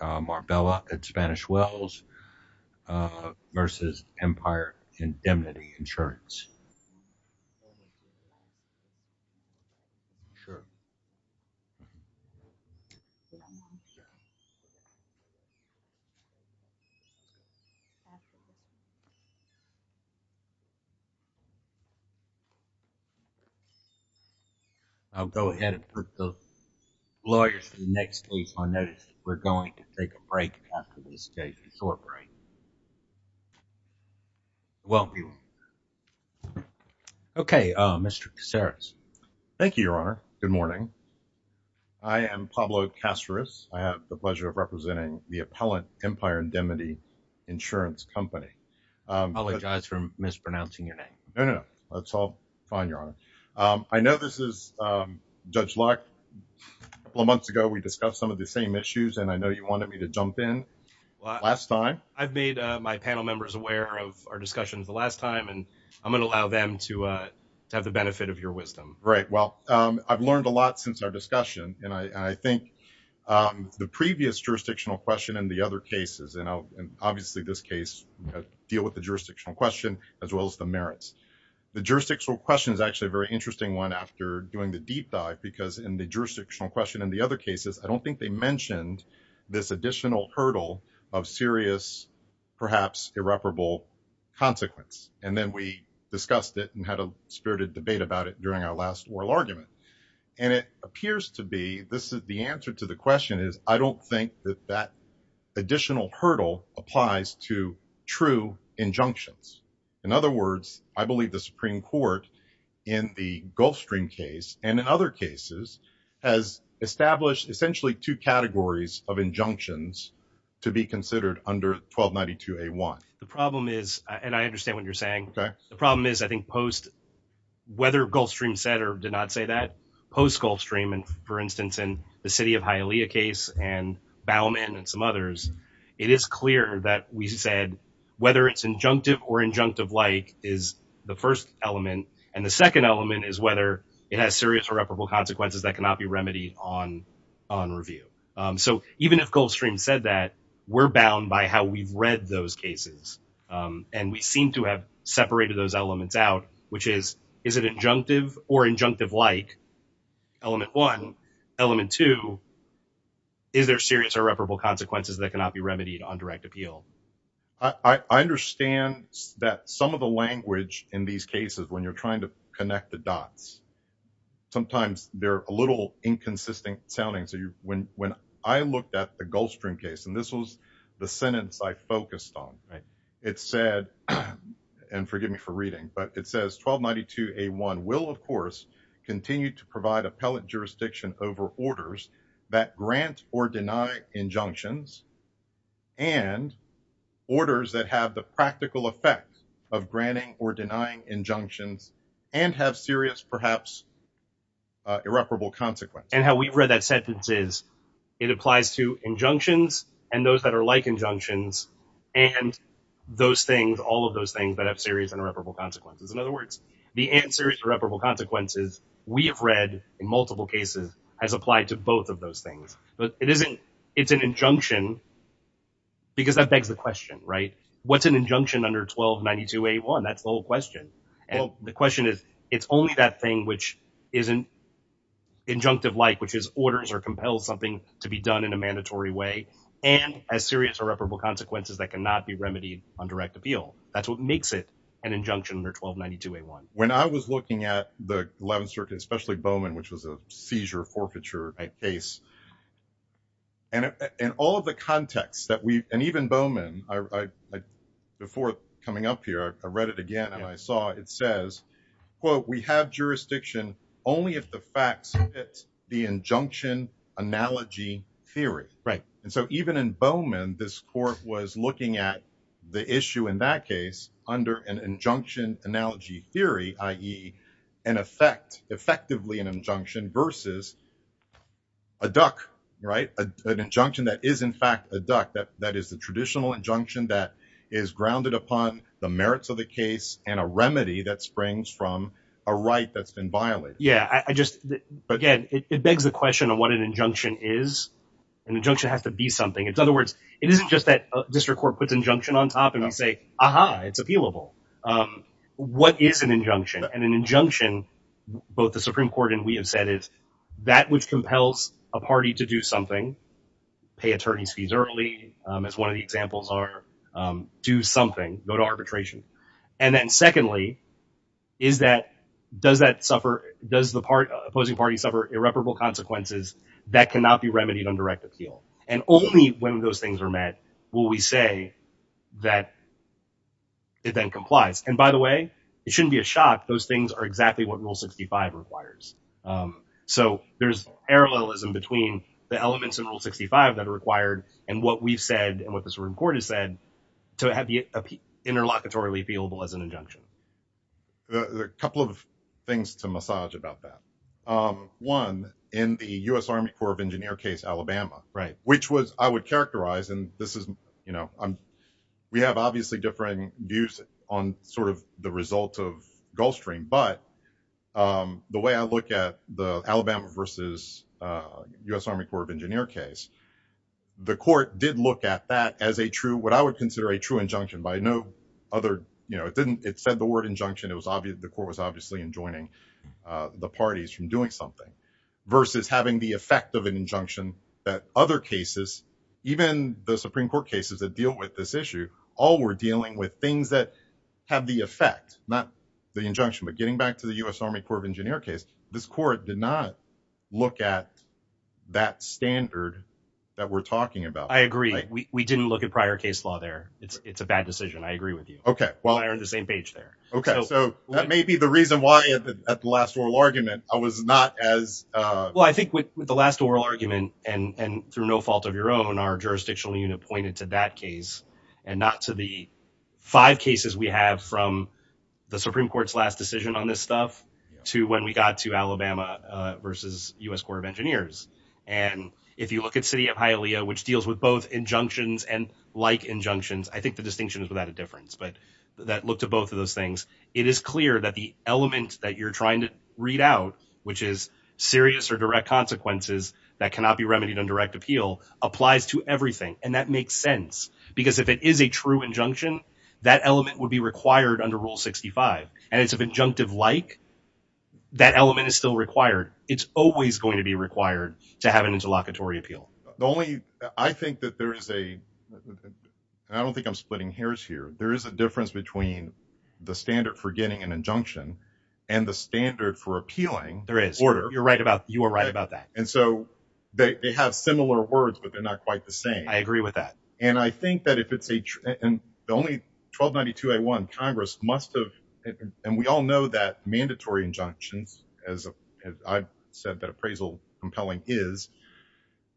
Marbella at Spanish Wells v. Empire Indemnity Insurance. I'll go ahead and put the lawyers for the next case on notice. We're going to take a break after this case. Okay, Mr. Casares. Thank you, Your Honor. Good morning. I am Pablo Casares. I have the pleasure of representing the appellant, Empire Indemnity Insurance Company. I apologize for mispronouncing your name. No, no, no. That's all fine, Your Honor. I know this is Judge Locke. A couple of months ago, we discussed some of the same issues, and I know you wanted me to jump in last time. I've made my panel members aware of our discussions the last time, and I'm going to allow them to have the benefit of your wisdom. Right. Well, I've learned a lot since our discussion, and I think the previous jurisdictional question and the other cases, and obviously this case, deal with the jurisdictional question as well as the merits. The jurisdictional question is actually a very interesting one after doing the deep dive, because in the jurisdictional question and the other cases, I don't think they mentioned this additional hurdle of serious, perhaps irreparable, consequence. And then we discussed it and had a spirited debate about it during our last oral argument. And it appears to be, this is the answer to the question is, I don't think that that additional hurdle applies to true injunctions. In other words, I believe the Supreme Court, in the Gulfstream case, and in other cases, has established essentially two categories of injunctions to be considered under 1292A1. The problem is, and I understand what you're saying. Okay. The problem is, I think, whether Gulfstream said or did not say that, post-Gulfstream, and for instance, in the City of Hialeah case and Bauman and some others, it is clear that we said, whether it's injunctive or injunctive-like is the first element. And the second element is whether it has serious irreparable consequences that cannot be remedied on review. So even if Gulfstream said that, we're bound by how we've read those cases. And we seem to have separated those elements out, which is, is it injunctive or injunctive-like, element one? Element two, is there serious irreparable consequences that cannot be remedied on direct appeal? I understand that some of the language in these cases, when you're trying to connect the dots, sometimes they're a little inconsistent sounding. So when I looked at the Gulfstream case, and this was the sentence I focused on, it said, and forgive me for reading, but it says 1292A1 will, of course, continue to provide appellate jurisdiction over orders that grant or deny injunctions and orders that have the practical effect of granting or denying injunctions and have serious, perhaps, irreparable consequences. And how we've read that sentence is, it applies to injunctions and those that are like injunctions and those things, all of those things that have serious and irreparable consequences. In other words, the answer is irreparable consequences, we have read in multiple cases has applied to both of those things. But it isn't, it's an injunction, because that begs the question, right? What's an injunction under 1292A1? That's the whole question. And the question is, it's only that thing which isn't injunctive-like, which is orders or compels something to be done in a mandatory way, and has serious irreparable consequences that cannot be remedied on direct appeal. That's what makes it an injunction under 1292A1. When I was looking at the 11th Circuit, especially Bowman, which was a seizure forfeiture case, and all of the contexts that we, and even Bowman, before coming up here, I read it again and I saw it says, quote, we have jurisdiction only if the facts fit the injunction analogy theory. Right. And so even in Bowman, this court was looking at the issue in that case under an injunction analogy theory, i.e. an effect, effectively an injunction versus a duck, right? An injunction that is in fact a duck, that is the traditional injunction that is grounded upon the merits of the case and a remedy that springs from a right that's been violated. Yeah, I just, again, it begs the question of what an injunction is. An injunction has to be something. In other words, it isn't just that district court puts injunction on top and we say, aha, it's appealable. What is an injunction? And an injunction, both the Supreme Court and we have said is, that which compels a party to do something, pay attorney's fees early, as one of the examples are, do something, go to arbitration. And then secondly, is that, does that suffer, does the opposing party suffer irreparable consequences that cannot be remedied on direct appeal? And only when those things are met will we say that it then complies. And by the way, it shouldn't be a shock, those things are exactly what Rule 65 requires. So there's parallelism between the elements in Rule 65 that are required and what we've said and what the Supreme Court has said to have the interlocutory appealable as an injunction. Couple of things to massage about that. One, in the U.S. Army Corps of Engineer case, Alabama, which was, I would characterize, and this is, we have obviously different views on sort of the result of Gulf Stream, but the way I look at the Alabama versus U.S. Army Corps of Engineer case, the court did look at that as a true, what I would consider a true injunction by no other, it didn't, it said the word injunction, it was obvious, the court was obviously enjoining the parties from doing something, versus having the effect of an injunction that other cases, even the Supreme Court cases that deal with this issue, all were dealing with things that have the effect, not the injunction, but getting back to the U.S. Army Corps of Engineer case, this court did not look at that standard that we're talking about. I agree. We didn't look at prior case law there. It's a bad decision. I agree with you. Okay, well. We're on the same page there. Okay, so that may be the reason why at the last oral argument, I was not as. Well, I think with the last oral argument, and through no fault of your own, our jurisdictional unit pointed to that case, and not to the five cases we have from the Supreme Court's last decision on this stuff, to when we got to Alabama versus U.S. Corps of Engineers. And if you look at City of Hialeah, which deals with both injunctions and like injunctions, I think the distinction is without a difference, but that looked at both of those things. It is clear that the element that you're trying to read out, which is serious or direct consequences that cannot be remedied on direct appeal, applies to everything. And that makes sense. Because if it is a true injunction, that element would be required under Rule 65. And it's of injunctive like, that element is still required. It's always going to be required to have an interlocutory appeal. The only, I think that there is a, and I don't think I'm splitting hairs here. There is a difference between the standard for getting an injunction and the standard for appealing. There is. You're right about, you are right about that. And so they have similar words, but they're not quite the same. I agree with that. And I think that if it's a, and the only 1292A1 Congress must have, and we all know that mandatory injunctions, as I've said that appraisal compelling is,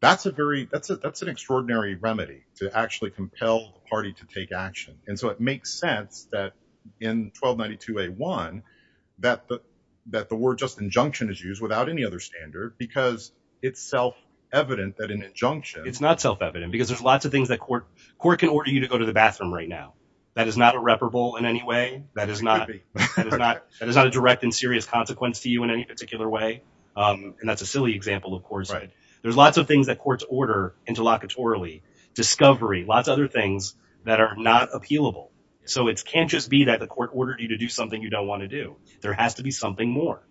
that's a very, that's an extraordinary remedy to actually compel the party to take action. And so it makes sense that in 1292A1, that the word just injunction is used without any other standard because it's self-evident that an injunction. It's not self-evident because there's lots of things that court, court can order you to go to the bathroom right now. That is not irreparable in any way. That is not a direct and serious consequence to you in any particular way. And that's a silly example, of course. There's lots of things that courts order interlocutorily, discovery, lots of other things that are not appealable. So it can't just be that the court ordered you to do something you don't want to do. There has to be something more.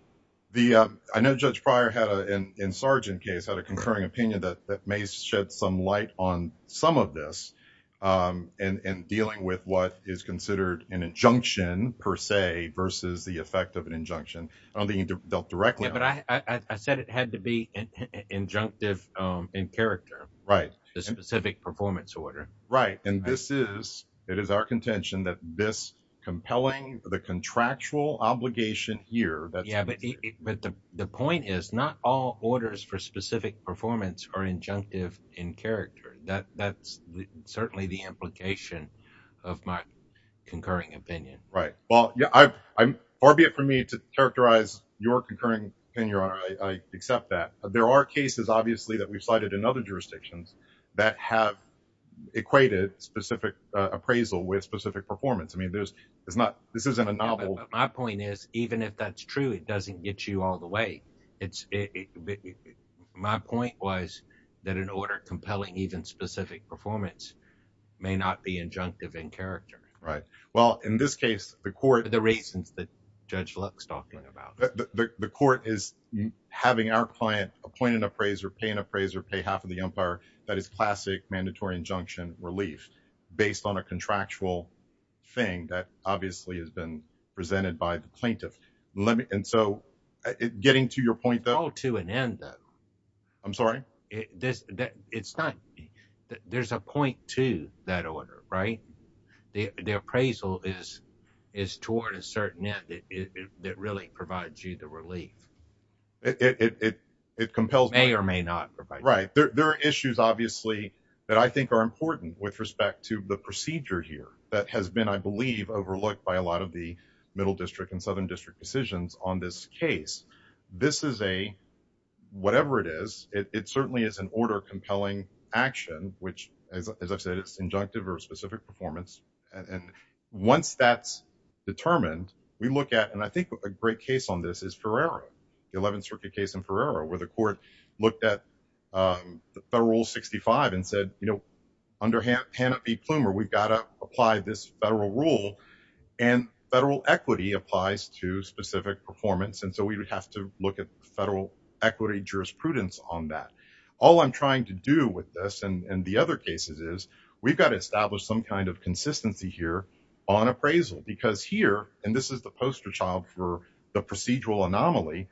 The, I know Judge Pryor had a, in Sargent case, had a concurring opinion that may shed some light on some of this and dealing with what is considered an injunction per se versus the effect of an injunction. I don't think he dealt directly. But I said it had to be an injunctive in character. Right. The specific performance order. Right. And this is, it is our contention that this compelling, the contractual obligation here. But the point is not all orders for specific performance are injunctive in character. That, that's certainly the implication of my concurring opinion. Right. Well, yeah, I'm, albeit for me to characterize your concurring opinion, I accept that. There are cases obviously that we've cited in other jurisdictions that have equated specific appraisal with specific performance. I mean, there's, it's not, this isn't a novel. My point is, even if that's true, it doesn't get you all the way. It's, my point was that an order compelling even specific performance may not be injunctive in character. Right. Well, in this case, the court. The reasons that Judge Lux talking about. The court is having our client appoint an appraiser, pay an appraiser, pay half of the umpire. That is classic mandatory injunction relief based on a contractual. Thing that obviously has been presented by the plaintiff. Let me, and so getting to your point, though, to an end, though. I'm sorry. This, that it's not, there's a point to that order, right? The appraisal is, is toward a certain net that really provides you the relief. It compels. May or may not provide. Right. There are issues obviously that I think are important with respect to the procedure here that has been, I believe, overlooked by a lot of the middle district and southern district decisions on this case. This is a, whatever it is, it certainly is an order compelling action, which as I've said, it's injunctive or specific performance. And once that's determined, we look at, and I think a great case on this is Ferrara. 11th circuit case in Ferrara, where the court looked at the federal rule 65 and said, you know, under Hannah B. Plumer, we've got to apply this federal rule and federal equity applies to specific performance. And so we would have to look at the federal equity jurisprudence on that. All I'm trying to do with this and the other cases is we've got to establish some kind of consistency here on appraisal because here, and this is the poster child for the procedural anomaly.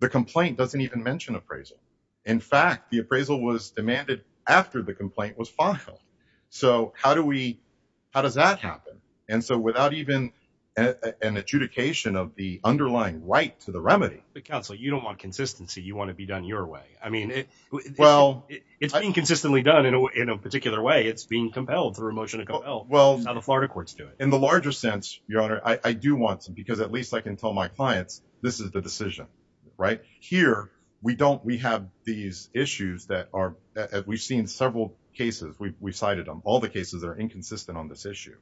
The complaint doesn't even mention appraisal. In fact, the appraisal was demanded after the complaint was filed. So how do we, how does that happen? And so without even an adjudication of the underlying right to the remedy, the council, you don't want consistency. You want to be done your way. I mean, well, it's been consistently done in a particular way. It's being compelled through a motion to compel. Well, the Florida courts do it in the larger sense. Your honor, I do want some, because at least I can tell my clients, this is the decision right here. We don't, we have these issues that are, we've seen several cases. We've, we've cited them all the cases that are inconsistent on this issue.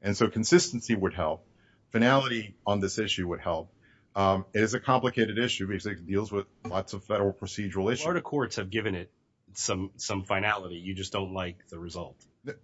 And so consistency would help finality on this issue would help. It is a complicated issue because it deals with lots of federal procedural issues. Florida courts have given it some, some finality. You just don't like the result.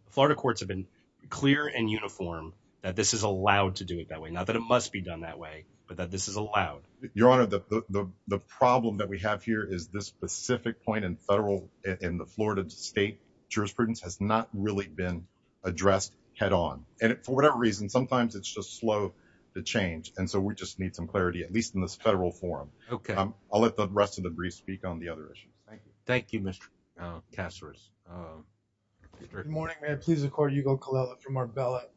Florida courts have been clear and uniform that this is allowed to do it that way. Not that it must be done that way, but that this is allowed. Your honor, the, the, the problem that we have here is this specific point in federal in the Florida state jurisprudence has not really been addressed head on. And for whatever reason, sometimes it's just slow to change. And so we just need some clarity, at least in this federal forum. Okay. I'll let the rest of the brief speak on the other issue. Thank you. Thank you, Mr. Kasser's. Good morning, ma'am. Please, of course, you go from our ballot.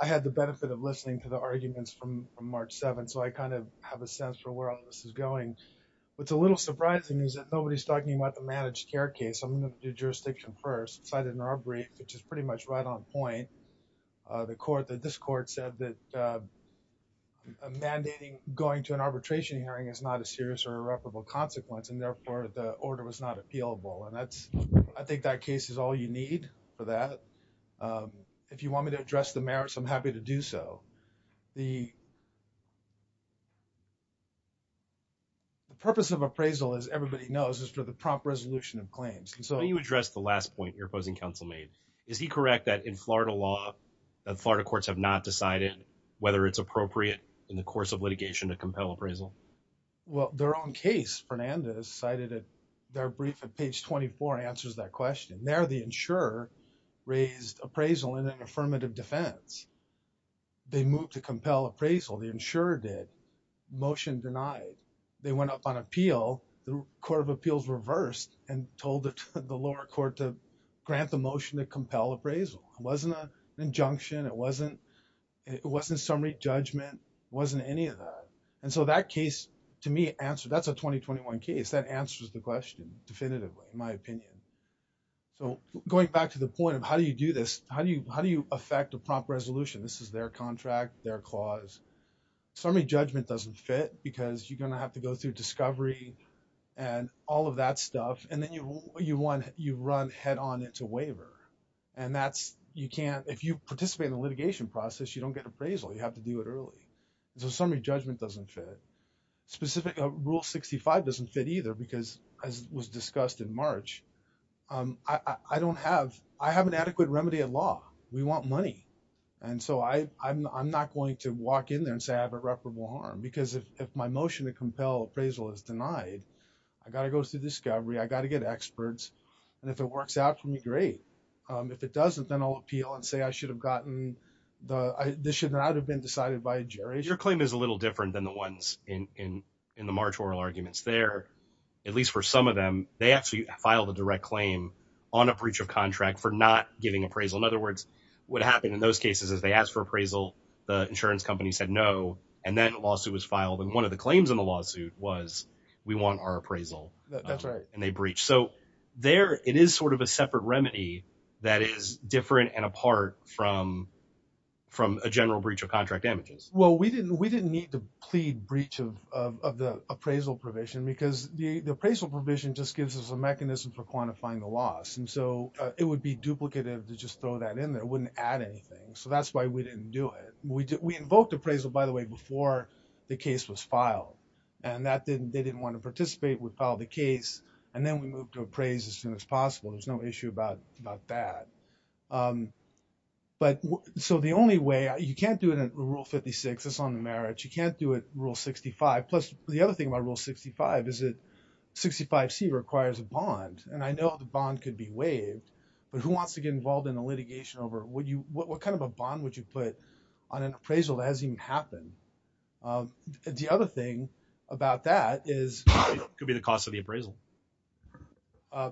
I had the benefit of listening to the arguments from March 7th. So I kind of have a sense for where all this is going. What's a little surprising is that nobody's talking about the managed care case. I'm going to do jurisdiction first cited in our brief, which is pretty much right on point. The court that this court said that. Mandating going to an arbitration hearing is not a serious or irreparable consequence. And therefore the order was not appealable. I think that case is all you need for that. If you want me to address the merits, I'm happy to do so. The purpose of appraisal, as everybody knows, is for the prompt resolution of claims. And so you address the last point your opposing counsel made. Is he correct that in Florida law, the Florida courts have not decided whether it's appropriate in the course of litigation to compel appraisal? Well, their own case, Fernandez cited in their brief at page 24 answers that question. There, the insurer raised appraisal in an affirmative defense. They moved to compel appraisal. The insurer did. Motion denied. They went up on appeal. The court of appeals reversed and told the lower court to grant the motion to compel appraisal. It wasn't an injunction. It wasn't summary judgment. It wasn't any of that. And so that case, to me, that's a 2021 case. That answers the question definitively, in my opinion. So going back to the point of how do you do this, how do you affect a prompt resolution? This is their contract, their clause. Summary judgment doesn't fit because you're going to have to go through discovery and all of that stuff. And then you run head on into waiver. And if you participate in the litigation process, you don't get appraisal. You have to do it early. So summary judgment doesn't fit. Rule 65 doesn't fit either because, as was discussed in March, I have an adequate remedy at law. We want money. And so I'm not going to walk in there and say I have irreparable harm. Because if my motion to compel appraisal is denied, I've got to go through discovery. I've got to get experts. And if it works out for me, great. If it doesn't, then I'll appeal and say I should have gotten the this should not have been decided by a jury. Your claim is a little different than the ones in the March oral arguments there, at least for some of them. They actually filed a direct claim on a breach of contract for not giving appraisal. In other words, what happened in those cases is they asked for appraisal. The insurance company said no. And then a lawsuit was filed. And one of the claims in the lawsuit was we want our appraisal. That's right. And they breached. So there it is sort of a separate remedy that is different and apart from a general breach of contract damages. Well, we didn't need to plead breach of the appraisal provision because the appraisal provision just gives us a mechanism for quantifying the loss. And so it would be duplicative to just throw that in there. It wouldn't add anything. So that's why we didn't do it. We invoked appraisal, by the way, before the case was filed. And that didn't they didn't want to participate. We filed the case. And then we moved to appraise as soon as possible. There's no issue about that. But so the only way you can't do it in Rule 56. That's on the merits. You can't do it. Rule 65. Plus, the other thing about Rule 65 is that 65C requires a bond. And I know the bond could be waived. But who wants to get involved in a litigation over what kind of a bond would you put on an appraisal that hasn't even happened? The other thing about that is. It could be the cost of the appraisal.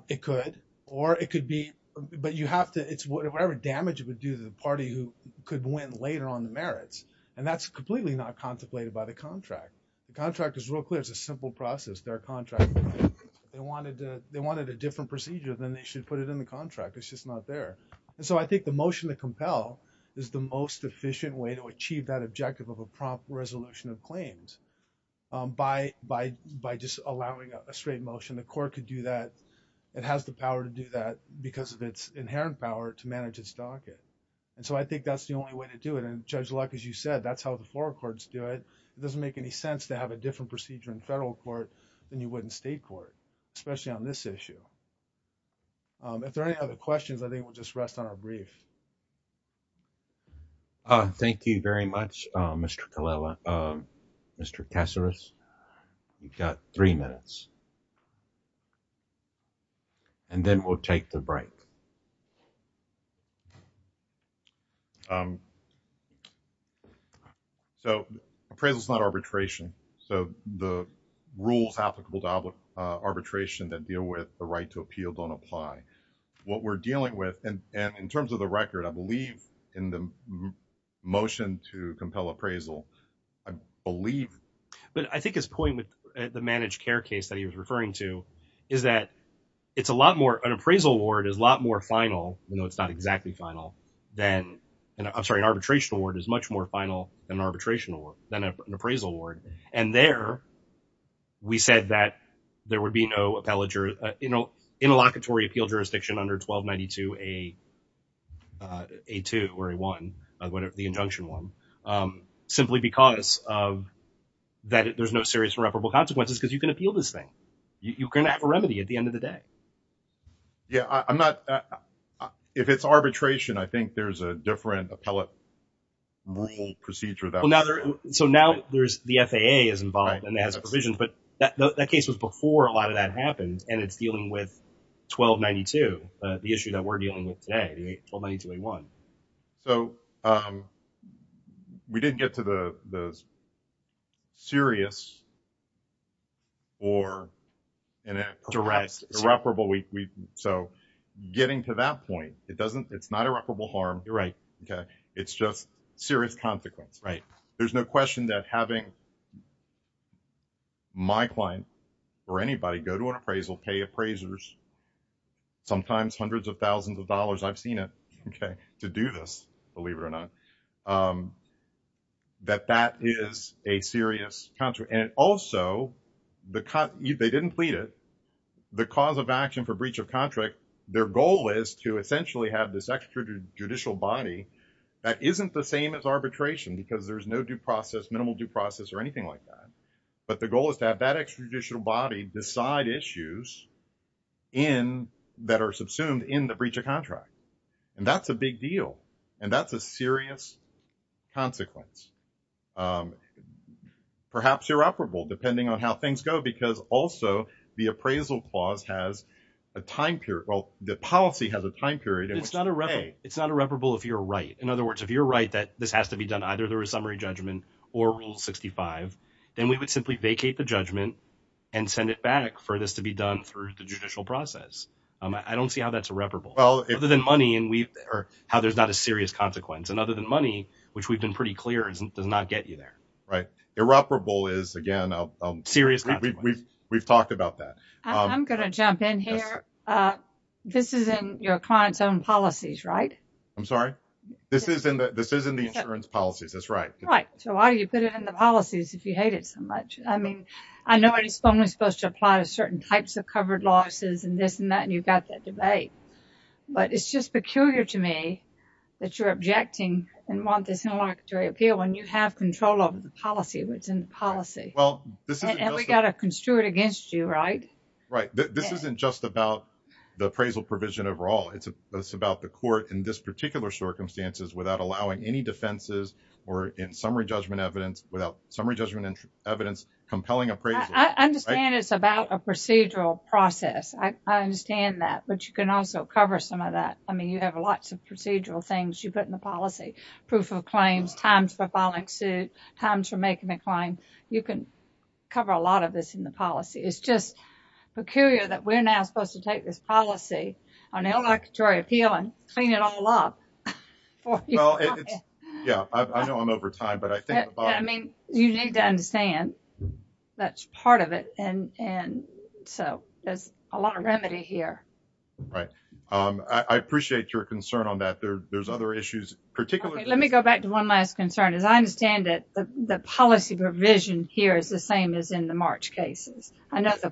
It could. Or it could be. But you have to. It's whatever damage it would do to the party who could win later on the merits. And that's completely not contemplated by the contract. The contract is real clear. It's a simple process. Their contract, they wanted a different procedure than they should put it in the contract. It's just not there. And so I think the motion to compel is the most efficient way to achieve that objective of a prompt resolution of claims by just allowing a straight motion. The court could do that. It has the power to do that because of its inherent power to manage its docket. And so I think that's the only way to do it. And Judge Luck, as you said, that's how the floral courts do it. It doesn't make any sense to have a different procedure in federal court than you would in state court, especially on this issue. If there are any other questions, I think we'll just rest on our brief. Thank you very much, Mr. Kallela, Mr. Caceres, you've got three minutes. And then we'll take the break. So appraisal is not arbitration. So the rules applicable to arbitration that deal with the right to appeal don't apply. What we're dealing with, and in terms of the record, I believe in the motion to compel appraisal, I believe. But I think his point with the managed care case that he was referring to is that it's a lot more, an appraisal award is a lot more final, you know, it's not exactly final than, I'm sorry, an arbitration award is much more final than an arbitration award, than an appraisal award. And there, we said that there would be no appellate, you know, interlocutory appeal jurisdiction under 1292A2 or A1, the injunction one, simply because of that there's no serious irreparable consequences because you can appeal this thing, you can have a remedy at the end of the day. Yeah, I'm not, if it's arbitration, I think there's a different appellate rule procedure. So now there's, the FAA is involved and has provisions, but that case was before a lot of that happened, and it's dealing with 1292, the issue that we're dealing with today, 1292A1. So we didn't get to the serious or perhaps irreparable. So getting to that point, it doesn't, it's not irreparable harm. You're right. Okay. It's just serious consequence. There's no question that having my client or anybody go to an appraisal, pay appraisers, sometimes hundreds of thousands of dollars, I've seen it, okay, to do this, believe it or not, that that is a serious consequence. And it also, they didn't plead it. The cause of action for breach of contract, their goal is to essentially have this extra judicial body that isn't the same as arbitration because there's no due process, minimal due process or anything like that. But the goal is to have that extra judicial body decide issues that are subsumed in the breach of contract. And that's a big deal. And that's a serious consequence. Perhaps irreparable, depending on how things go, because also the appraisal clause has a time period. Well, the policy has a time period. It's not irreparable if you're right. In other words, if you're right that this has to be done, either there was summary judgment or rule 65, then we would simply vacate the judgment and send it back for this to be done through the judicial process. I don't see how that's irreparable. Well, other than money and how there's not a serious consequence. And other than money, which we've been pretty clear does not get you there. Right. Irreparable is, again, serious. We've talked about that. I'm going to jump in here. This is in your client's own policies, right? I'm sorry? This is in the insurance policies. That's right. Right. So why do you put it in the policies if you hate it so much? I mean, I know it's only supposed to apply to certain types of covered losses and this and that, and you've got that debate. But it's just peculiar to me that you're objecting and want this interlocutory appeal when you have control over the policy, what's in the policy. Well, this isn't just- And we've got to construe it against you, right? Right. This isn't just about the appraisal provision overall. It's about the court in this particular circumstances without allowing any defenses or in summary judgment evidence, without summary judgment evidence compelling appraisal. I understand it's about a procedural process. I understand that. But you can also cover some of that. I mean, you have lots of procedural things you put in the policy. Proof of claims, times for filing suit, times for making a claim. You can cover a lot of this in the policy. It's just peculiar that we're now supposed to take this policy on interlocutory appeal and clean it all up. Yeah, I know I'm over time, but I think about- I mean, you need to understand that's part of it. And so there's a lot of remedy here. Right. I appreciate your concern on that. There's other issues, particularly- Let me go back to one last concern. As I understand it, the policy provision here is the same as in the March cases. I know the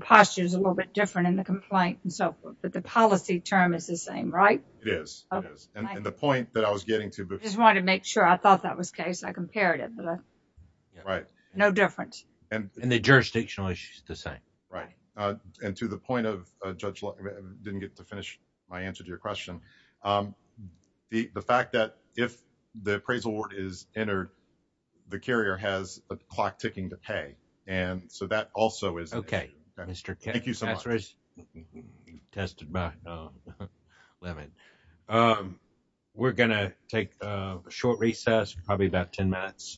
posture is a little bit different in the complaint and so forth, but the policy term is the same, right? It is, it is. And the point that I was getting to- I just wanted to make sure. I thought that was the case. I compared it. Right. No difference. And the jurisdictional issue is the same. Right. And to the point of, Judge Long, I didn't get to finish my answer to your question. The fact that if the appraisal word is entered, the carrier has a clock ticking to pay. And so that also is- Okay, Mr. Kent. Thank you so much. Tested by Lemon. We're going to take a short recess, probably about 10 minutes.